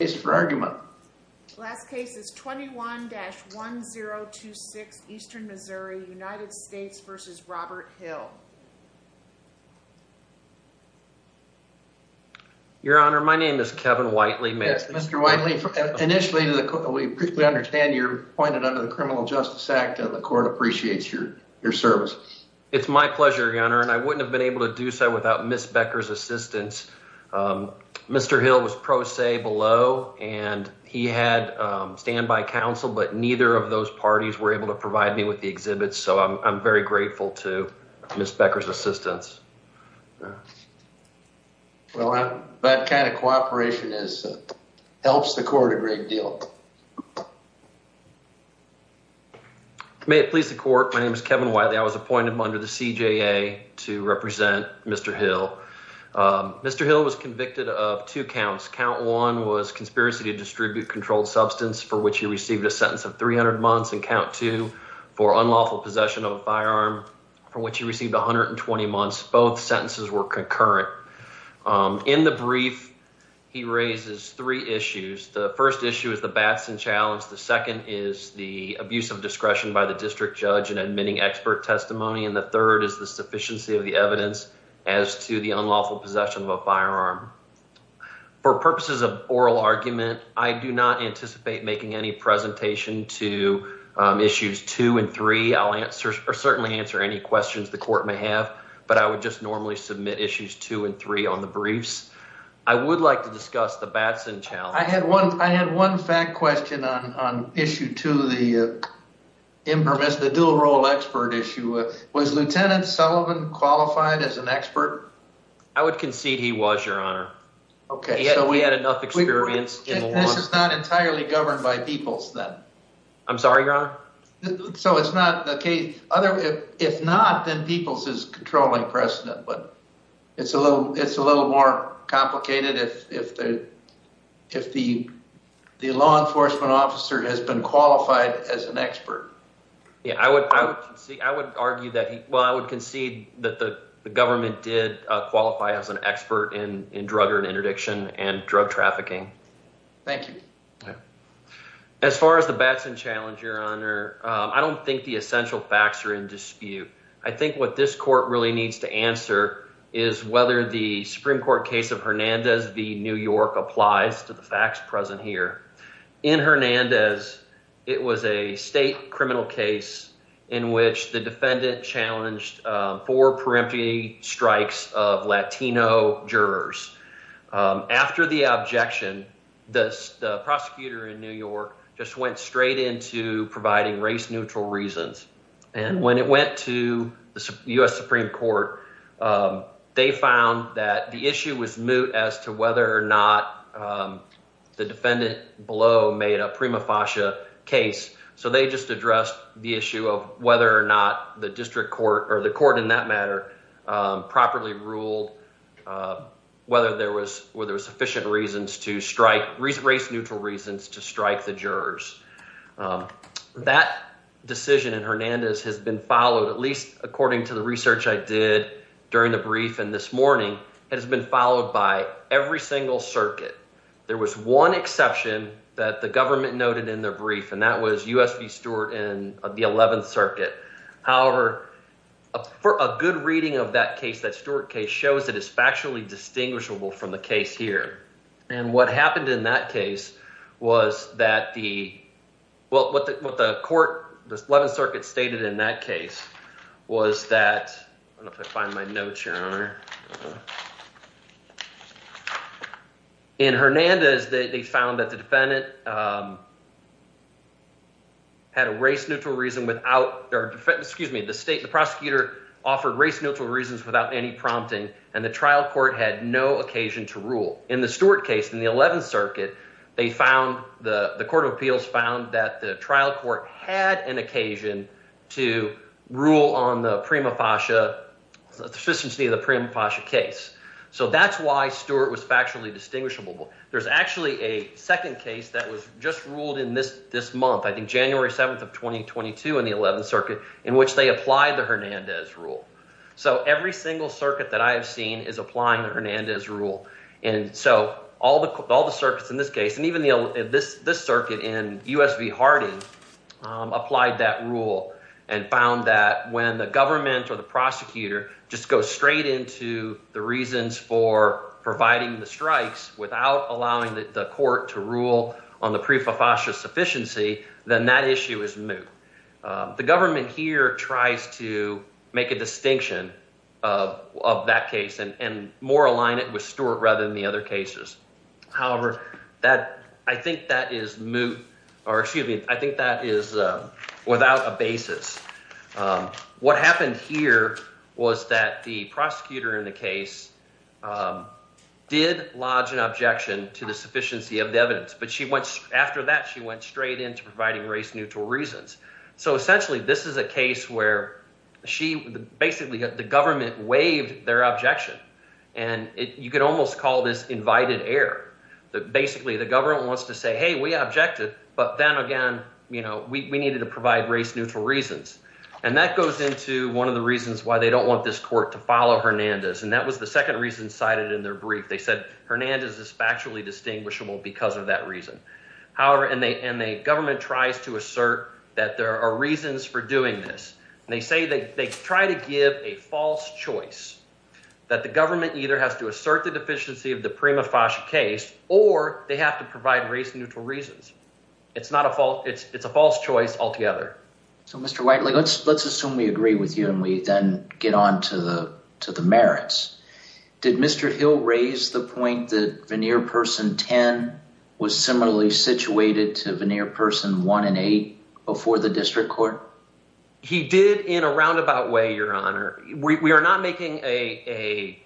is for argument. Last case is 21-1026 Eastern Missouri United States versus Robert Hill. Your Honor, my name is Kevin Whiteley. Mr. Whiteley, initially to the court, we understand you're appointed under the Criminal Justice Act and the court appreciates your service. It's my pleasure, Your Honor, and I wouldn't have been able to do so without Ms. Becker's assistance. Mr. Hill was pro se below and he had standby counsel, but neither of those parties were able to provide me with the exhibits, so I'm very grateful to Ms. Becker's assistance. Well, that kind of cooperation helps the court a great deal. May it please the court, my name is Kevin Whiteley. I was appointed under the CJA to Mr. Hill was convicted of two counts. Count one was conspiracy to distribute controlled substance for which he received a sentence of 300 months and count two for unlawful possession of a firearm for which he received 120 months. Both sentences were concurrent. In the brief, he raises three issues. The first issue is the Batson challenge. The second is the abuse of discretion by the district judge in admitting expert testimony, and the third is the sufficiency of the evidence as to the unlawful possession of a firearm. For purposes of oral argument, I do not anticipate making any presentation to issues two and three. I'll answer or certainly answer any questions the court may have, but I would just normally submit issues two and three on the briefs. I would like to discuss the Batson challenge. I had one fact question on issue two, the dual role expert issue. Was Lieutenant Sullivan qualified as an expert? I would concede he was, your honor. Okay. So we had enough experience in the law. This is not entirely governed by Peeples then? I'm sorry, your honor? So it's not the case. If not, then Peeples is controlling precedent, but it's a little more complicated if the law enforcement officer has been qualified as an expert. Yeah, I would concede that the government did qualify as an expert in drug or interdiction and drug trafficking. Thank you. As far as the Batson challenge, your honor, I don't think the essential facts are in dispute. I think what this court really needs to answer is whether the Supreme Court case of Hernandez v. New York applies to the facts present here. In Hernandez, it was a state criminal case in which the defendant challenged four peremptory strikes of Latino jurors. After the objection, the prosecutor in New York just went straight into providing race neutral reasons. And when it went to the U.S. Supreme Court, they found that the issue was moot as to whether or not the defendant below made a prima facie case. So they just addressed the issue of whether or not the district court, or the court in that matter, properly ruled whether there were to strike race neutral reasons to strike the jurors. That decision in Hernandez has been followed, at least according to the research I did during the brief and this morning, has been followed by every single circuit. There was one exception that the government noted in the brief, and that was U.S. v. Stewart in the 11th Circuit. However, for a good reading of that case, that distinguishable from the case here. And what happened in that case was that the, well, what the court, the 11th Circuit stated in that case was that, I don't know if I find my notes, Your Honor. In Hernandez, they found that the defendant had a race neutral reason without, or excuse me, the state, the prosecutor offered race neutral reasons without any prompting, and the trial court had no occasion to rule. In the Stewart case in the 11th Circuit, they found, the court of appeals found that the trial court had an occasion to rule on the prima facie, the efficiency of the prima facie case. So that's why Stewart was factually distinguishable. There's actually a second case that was just ruled in this month, I think January 7th of 2022 in the Hernandez rule. And so all the circuits in this case, and even this circuit in U.S. v. Harding applied that rule and found that when the government or the prosecutor just goes straight into the reasons for providing the strikes without allowing the court to rule on the prima facie sufficiency, then that issue is moot. The government here tries to make a distinction of that case and more align it with Stewart rather than the other cases. However, I think that is moot, or excuse me, I think that is without a basis. What happened here was that the prosecutor in the case did lodge an objection to the sufficiency of the evidence, but after that she went straight into providing race neutral reasons. So essentially this is a case where basically the government waived their objection. And you could almost call this invited air. Basically the government wants to say, hey, we objected, but then again, we needed to provide race neutral reasons. And that goes into one of the reasons why they don't want this court to follow Hernandez. And that was the second reason cited in their brief. They said Hernandez is factually distinguishable because of that reason. However, and the government tries to assert that there are reasons for doing this. And they say that they try to give a false choice that the government either has to assert the deficiency of the prima facie case, or they have to provide race neutral reasons. It's a false choice altogether. So, Mr. Whiteley, let's assume we agree with you and we then get on to the merits. Did Mr. Hill raise the point that 10 was similarly situated to the near person one and eight before the district court? He did in a roundabout way, your honor. We are not making a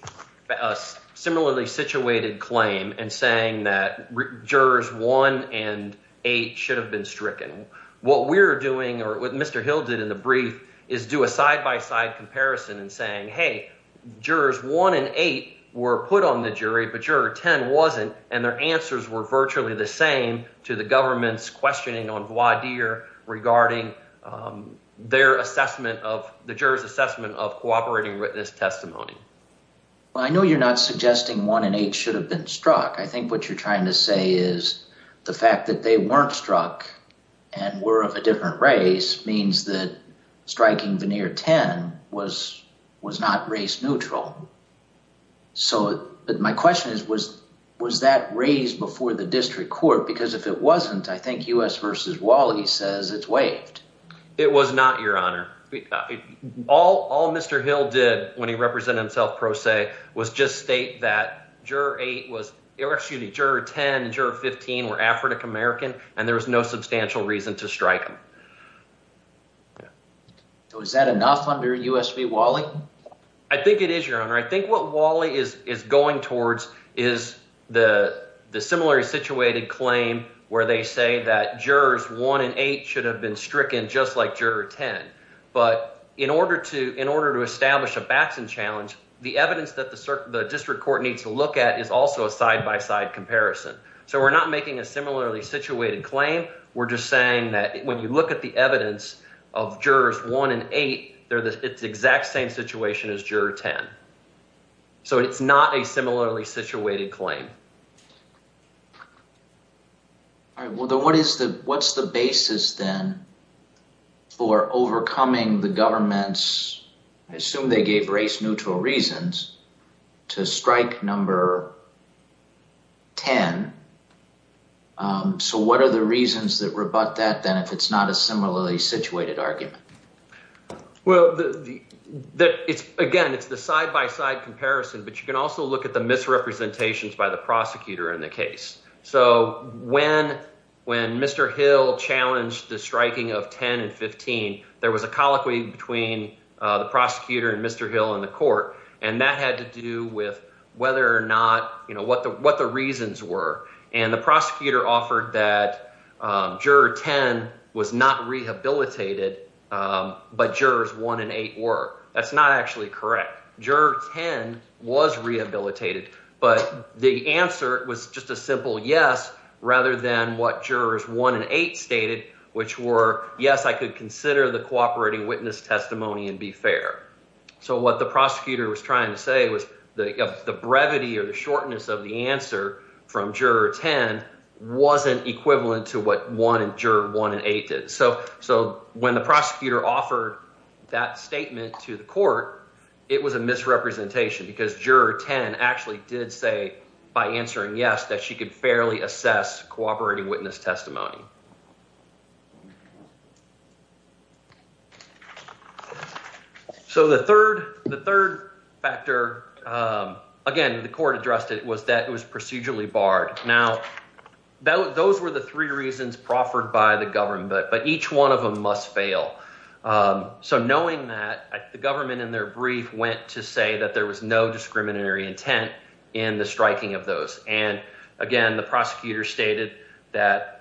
similarly situated claim and saying that jurors one and eight should have been stricken. What we're doing or what Mr. Hill did in the brief is do a side-by-side comparison and saying, hey, jurors one and eight were put on the and their answers were virtually the same to the government's questioning on voir dire regarding their assessment of the jurors assessment of cooperating witness testimony. I know you're not suggesting one and eight should have been struck. I think what you're trying to say is the fact that they weren't struck and were of a different race means that was not race neutral. So, my question is, was that raised before the district court? Because if it wasn't, I think U.S. v. Wally says it's waived. It was not, your honor. All Mr. Hill did when he represented himself pro se was just state that juror 10 and juror 15 were African-American and there was no substantial reason to strike them. So, is that enough under U.S. v. Wally? I think it is, your honor. I think what Wally is going towards is the similarly situated claim where they say that jurors one and eight should have been stricken just like juror 10. But in order to establish a Baxton challenge, the evidence that the district court needs to look at is also a side-by-side comparison. So, we're not making a similarly situated claim. We're just saying that when you look at the evidence of jurors one and eight, it's the exact same situation as juror 10. So, it's not a similarly situated claim. All right. What's the basis then for overcoming the government's, assume they gave race-neutral reasons to strike number 10. So, what are the reasons that rebut that then if it's not a similarly situated argument? Well, again, it's the side-by-side comparison, but you can also look at the misrepresentations by the prosecutor in the case. So, when Mr. Hill challenged the striking of 10 and 15, there was a colloquy between the prosecutor and Mr. Hill in the court, and that had to do with whether or not, what the reasons were. And the prosecutor offered that juror 10 was not rehabilitated, but jurors one and eight were. That's not actually correct. Juror 10 was rehabilitated, but the answer was just a simple yes, rather than what jurors one and eight stated, which were, yes, I could consider the cooperating witness testimony and be fair. So, what the prosecutor was trying to say was the brevity or the shortness of the answer from juror 10 wasn't equivalent to what juror one and eight did. So, when the prosecutor offered that statement to the court, it was a misrepresentation because juror 10 actually did say, by answering yes, that she could fairly assess cooperating witness testimony. So, the third factor, again, the court addressed it was that it was procedurally barred. Now, those were the three reasons proffered by the government, but each one of them must fail. So, knowing that, the government in their brief went to say that there was no discriminatory intent in the striking of those. And, again, the prosecutor stated that,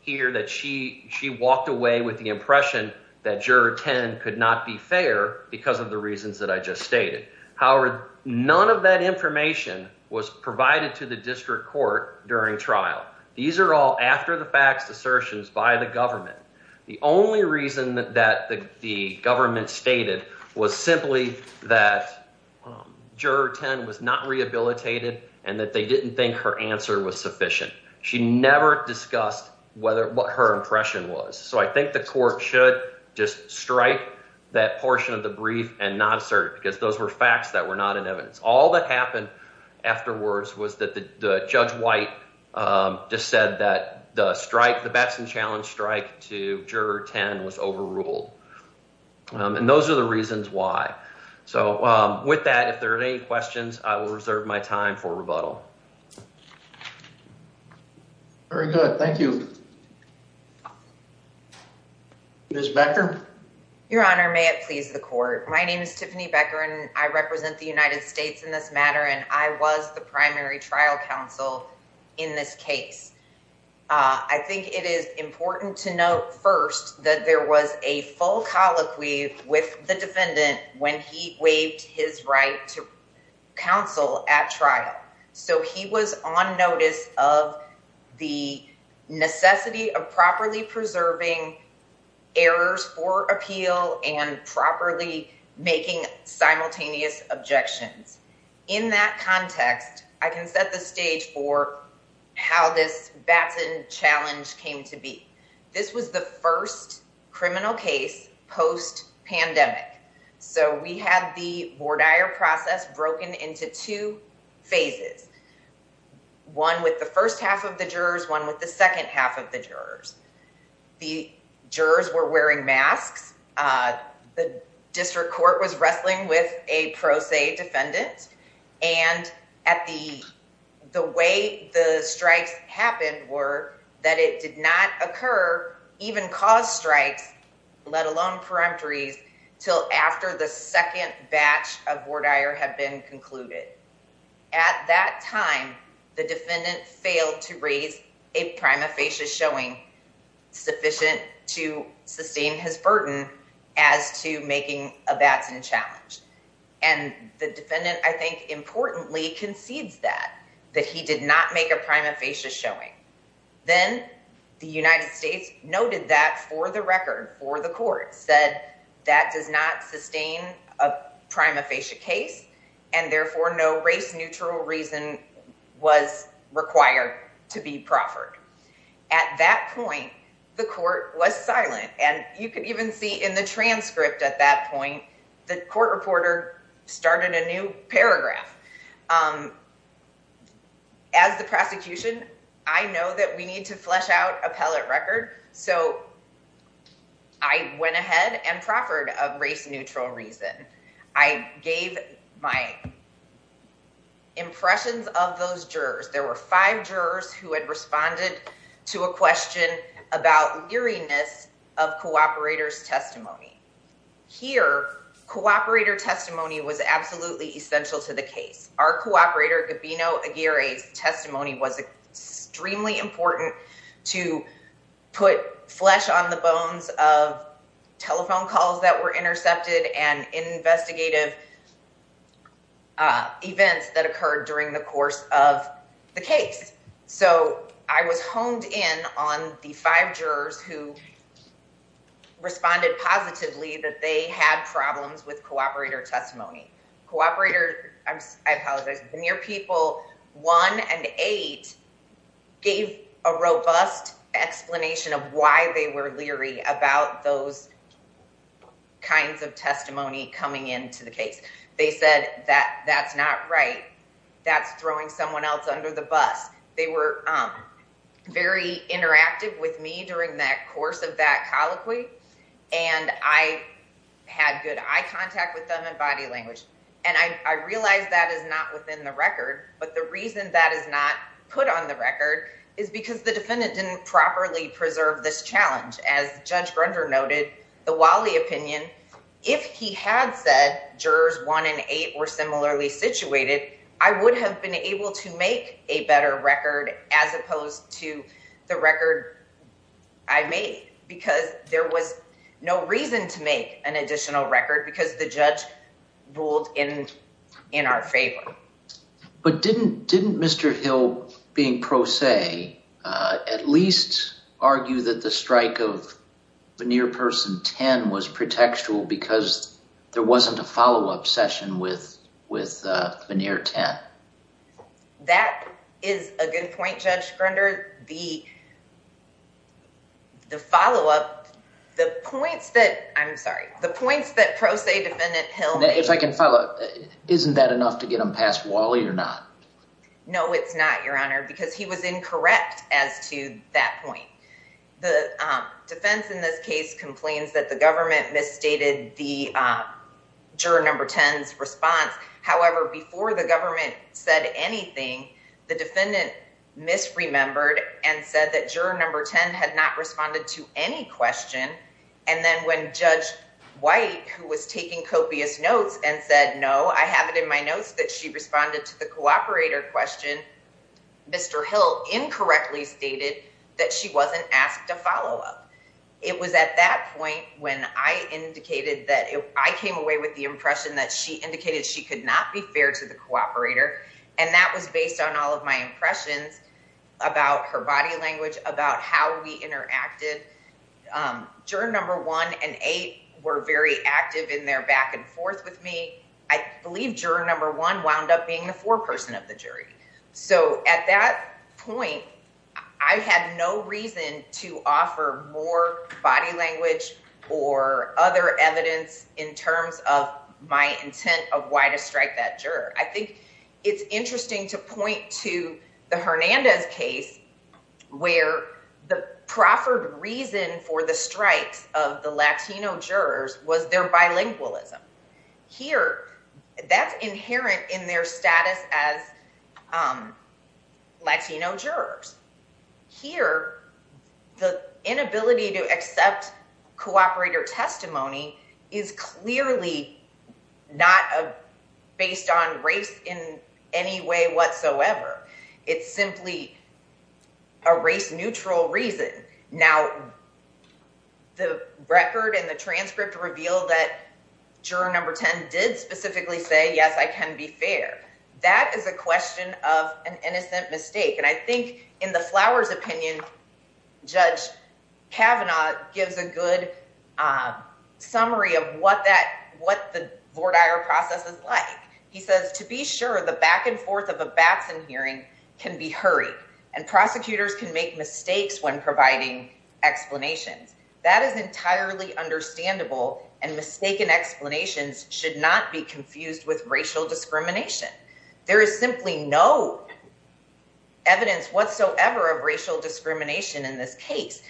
here, that she walked away with the impression that juror 10 could not be fair because of the reasons that I just stated. However, none of that information was provided to the district court during trial. These are all after the facts assertions by the government. The only reason that the government stated was simply that juror 10 was not rehabilitated and that they didn't think her answer was sufficient. She never discussed what her impression was. So, I think the court should just strike that portion of the brief and not assert because those were facts that were not in evidence. All that happened afterwards was that Judge White just said that the strike, the Bettson Challenge strike, to juror 10 was overruled. And those are the reasons why. So, with that, if there are any questions, I will reserve my time for rebuttal. Very good. Thank you. Ms. Becker? Your Honor, may it please the court. My name is Tiffany Becker and I represent the United States in this matter and I was the primary trial counsel in this case. I think it is important to note first that there was a full colloquy with the defendant when he waived his right to counsel at trial. So, he was on notice of the necessity of properly preserving errors for appeal and properly making simultaneous objections. In that context, I can set the stage for how this Bettson Challenge came to be. This was the first criminal case post-pandemic. So, we had the Bordier process broken into two phases. One with the first half of the jurors, one with the second half of the jurors. The jurors were wearing masks. The district court was wrestling with a pro se defendant. And the way the strikes happened were that it did not occur, even cause strikes, let alone peremptories, until after the second batch of Bordier had been concluded. At that time, the defendant failed to raise a prima facie showing sufficient to sustain his burden as to making a Bettson Challenge. And the defendant, I think, importantly concedes that, that he did not make a prima facie showing. Then the United States noted that for the record, said that does not sustain a prima facie case and therefore no race neutral reason was required to be proffered. At that point, the court was silent. And you could even see in the transcript at that point, the court reporter started a new paragraph. As the prosecution, I know that we need to flesh out a pellet record. So, I went ahead and proffered a race neutral reason. I gave my impressions of those jurors. There were five jurors who had responded to a question about leeriness of cooperator's testimony. Here, cooperator testimony was absolutely essential to the case. Our cooperator, Aguirre's testimony was extremely important to put flesh on the bones of telephone calls that were intercepted and investigative events that occurred during the course of the case. So, I was honed in on the five jurors who responded positively that they had problems with cooperator testimony. Cooperator, I apologize, the near people one and eight gave a robust explanation of why they were leery about those kinds of testimony coming into the case. They said that that's not right. That's throwing someone else under the bus. They were very interactive with me during that course of that colloquy. And I had good eye contact with them and body language. And I realized that is not within the record. But the reason that is not put on the record is because the defendant didn't properly preserve this challenge. As Judge Grunder noted, the Wally opinion, if he had said jurors one and eight were similarly situated, I would have been able to make a better record as opposed to the record I made because there was no reason to make an additional record because the judge ruled in our favor. But didn't Mr. Hill, being pro se, at least argue that the strike of veneer person 10 was pretextual because there wasn't a follow-up session with veneer 10? That is a good point, Judge Grunder. The follow-up, the points that, I'm sorry, the points that pro se defendant Hill made. If I can follow up, isn't that enough to get him past Wally or not? No, it's not, Your Honor, because he was incorrect as to that point. The defense in this case complains that the government misstated the juror number 10's response. However, before the government said anything, the defendant misremembered and said that juror number 10 had not responded to any question. And then when Judge White, who was taking copious notes and said, no, I have it in my notes that she responded to the cooperator question, Mr. Hill incorrectly stated that she wasn't asked to follow up. It was at that point when I came away with the impression that she indicated she could not be fair to the cooperator. And that was based on all of my impressions about her body language, about how we interacted. Juror number one and eight were very active in their back and forth with me. I believe juror number one wound up being the foreperson of the jury. So at that point, I had no reason to offer more body language or other evidence in terms of my intent of why to strike that juror. I think it's interesting to point to the Hernandez case where the proffered reason for the strikes of the Latino jurors was their bilingualism. Here, that's inherent in their status as Latino jurors. Here, the inability to accept cooperator testimony is clearly not based on race in any way whatsoever. It's simply a race-neutral reason. Now, the record and the transcript revealed that juror number 10 did specifically say, yes, I can be fair. That is a question of an innocent mistake. And I think in the Flowers' opinion, Judge Kavanaugh gives a good summary of what the Lord Iyer process is like. He says, to be sure the back and forth of a Batson hearing can be hurried and prosecutors can make mistakes when providing explanations. That is entirely understandable and mistaken explanations should not be confused with racial discrimination. There is simply no evidence whatsoever of racial discrimination in this case.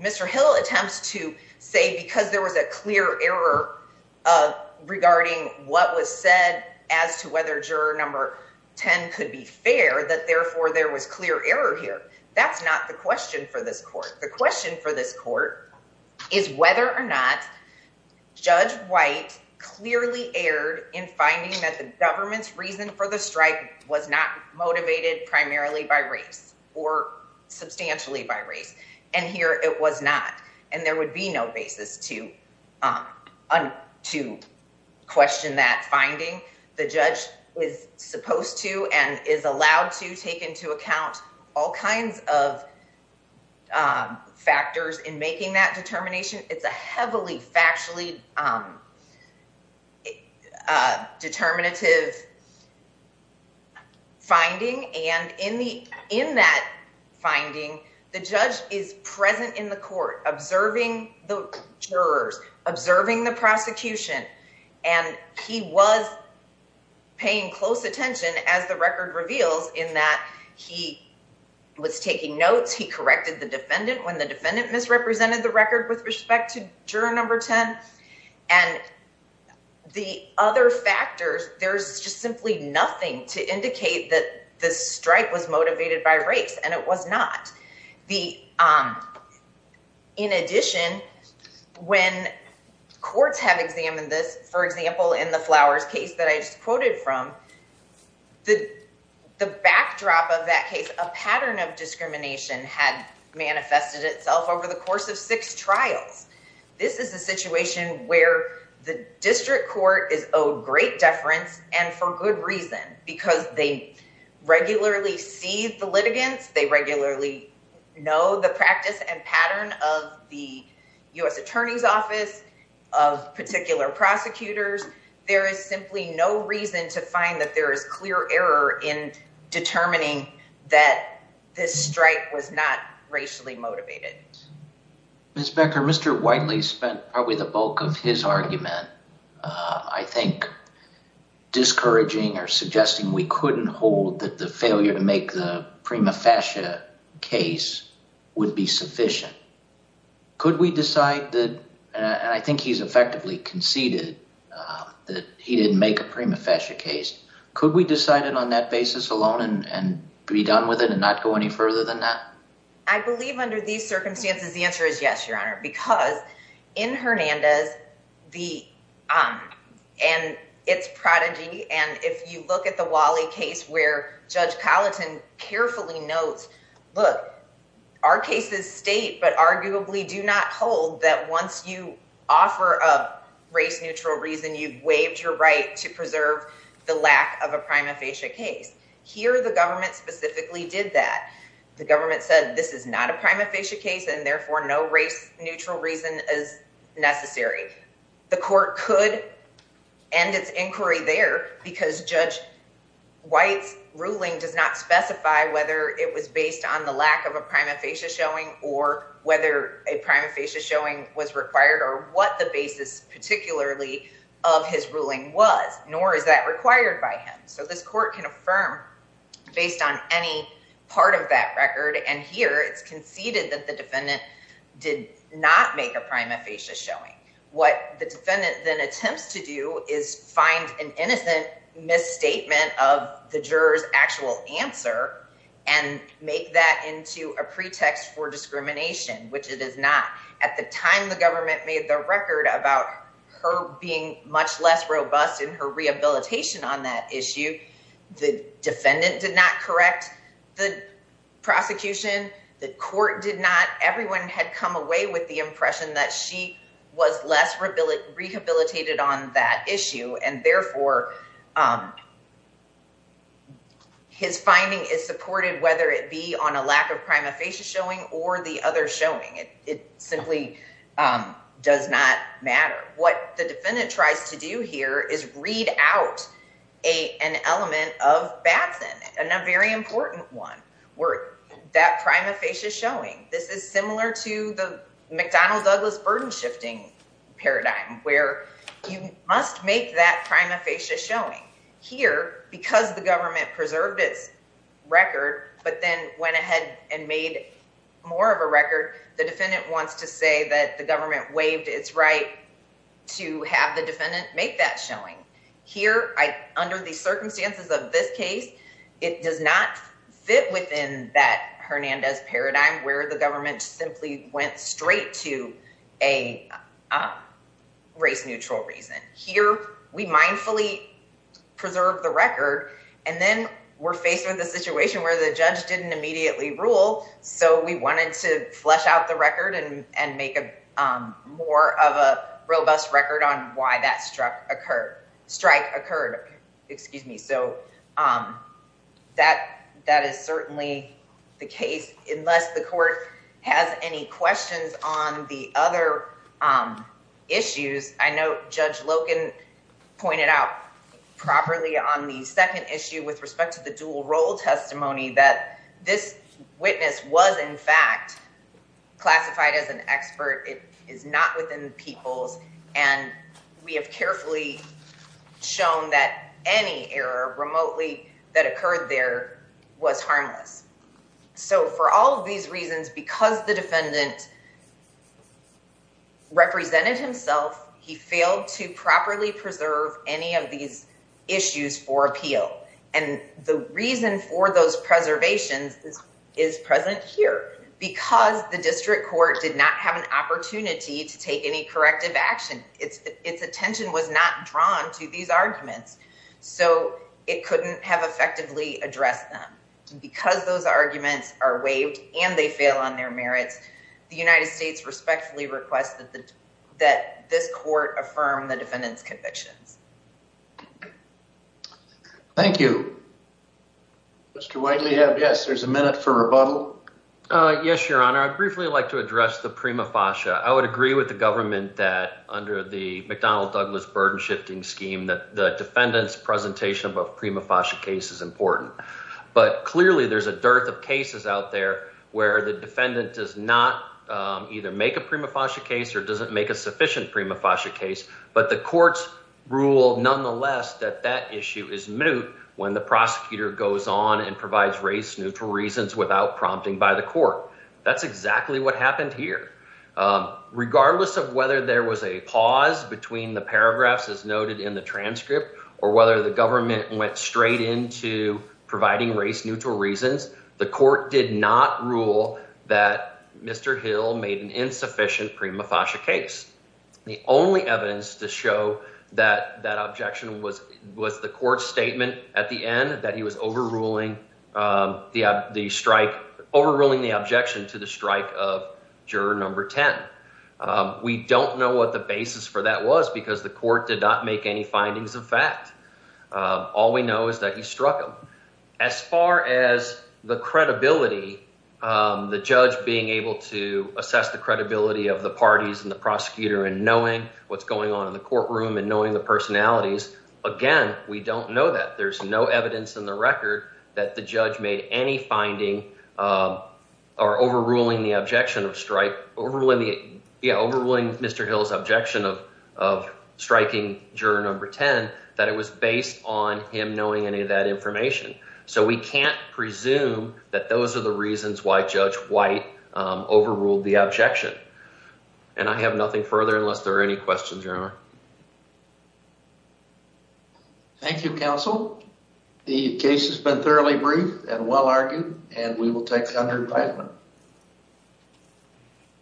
Mr. Hill attempts to say because there was a clear error regarding what was said as to whether juror number 10 could be fair, that therefore there was clear error here. That's not the question for this court. The question for this White clearly erred in finding that the government's reason for the strike was not motivated primarily by race or substantially by race. And here it was not. And there would be no basis to question that finding. The judge was supposed to and is allowed to take into account all kinds of factors in making that determination. It's a heavily factually a determinative finding. And in that finding, the judge is present in the court, observing the jurors, observing the prosecution. And he was paying close attention as the record reveals in that he was taking notes. He corrected the defendant when the defendant misrepresented the record with respect to juror number 10. And the other factors, there's just simply nothing to indicate that the strike was motivated by race and it was not. In addition, when courts have examined this, for example, in the Flowers case that I just quoted from, the backdrop of that case, a pattern of discrimination had manifested itself over the course of six trials. This is a situation where the district court is owed great deference and for good reason, because they regularly see the litigants, they regularly know the practice and pattern of the U.S. Attorney's Office, of particular prosecutors. There is simply no reason to find that there is clear error in determining that this strike was not racially motivated. Ms. Becker, Mr. Whiteley spent probably the bulk of his argument, I think, discouraging or suggesting we couldn't hold that the failure to make the prima facie case would be sufficient. Could we decide that, and I think he's effectively conceded that he didn't make a prima facie case, could we decide it on that basis alone and be done with it and not go any further than that? I believe under these circumstances, the answer is yes, Your Honor, because in Hernandez, and it's prodigy, and if you look at the Wally case where Judge Colleton carefully notes, look, our case is state, but arguably do not hold that once you offer a race neutral reason, you've waived your right to preserve the lack of a prima facie case. Here, the government specifically did that. The government said this is not a prima facie case, and therefore no race neutral reason is necessary. The court could end its inquiry there because Judge White's ruling does not specify whether it was based on the lack of a prima facie showing or whether a prima facie showing was required or what the basis particularly of his ruling was, nor is that required by him. This court can affirm based on any part of that record, and here it's conceded that the defendant did not make a prima facie showing. What the defendant then attempts to do is find an innocent misstatement of the juror's actual answer and make that into a pretext for discrimination, which it is not. At the time the government made the record about her being much less robust in her rehabilitation on that issue. The defendant did not correct the prosecution. The court did not. Everyone had come away with the impression that she was less rehabilitated on that issue, and therefore his finding is supported whether it simply does not matter. What the defendant tries to do here is read out an element of Batson, and a very important one, where that prima facie is showing. This is similar to the McDonnell-Douglas burden-shifting paradigm, where you must make that prima facie showing. Here, because the government preserved its record but then went ahead and made more of a record, the defendant wants to say that the government waived its right to have the defendant make that showing. Here, under the circumstances of this case, it does not fit within that Hernandez paradigm where the government simply went straight to a race-neutral reason. Here, we mindfully preserve the record, and then we're faced with a situation where the judge didn't immediately rule, so we wanted to flesh out the record and make more of a robust record on why that strike occurred. That is certainly the case, unless the court has any questions on the other issues. I know Judge Loken pointed out properly on the second issue with respect to the dual role testimony that this witness was, in fact, classified as an expert. It is not within the people's, and we have carefully shown that any error remotely that occurred there was harmless. For all of these reasons, because the defendant represented himself, he failed to properly preserve any of those preservations is present here. Because the district court did not have an opportunity to take any corrective action, its attention was not drawn to these arguments, so it couldn't have effectively addressed them. Because those arguments are waived and they fail on their merits, the United States respectfully requests that this court affirm the defendant's convictions. Thank you. Mr. Whiteley, yes, there's a minute for rebuttal. Yes, Your Honor. I'd briefly like to address the prima facie. I would agree with the government that under the McDonnell-Douglas burden-shifting scheme that the defendant's presentation of a prima facie case is important, but clearly there's a dearth of cases out there where the defendant does not either make a prima facie case or doesn't make a sufficient prima facie case, but the courts rule nonetheless that that issue is moot when the prosecutor goes on and provides race-neutral reasons without prompting by the court. That's exactly what happened here. Regardless of whether there was a pause between the paragraphs as noted in the transcript or whether the government went straight into providing race-neutral reasons, the court did not to show that that objection was the court's statement at the end that he was overruling the objection to the strike of juror number 10. We don't know what the basis for that was because the court did not make any findings of fact. All we know is that he struck him. As far as the credibility, the judge being able to assess the credibility of the parties and the prosecutor in knowing what's going on in the courtroom and knowing the personalities, again, we don't know that. There's no evidence in the record that the judge made any finding or overruling Mr. Hill's objection of striking juror number 10 that it was based on him knowing any of that information, so we can't presume that those are the reasons why Judge White overruled the objection. And I have nothing further unless there are any questions, Your Honor. Thank you, counsel. The case has been thoroughly briefed and well-argued, and we will take it under invitement.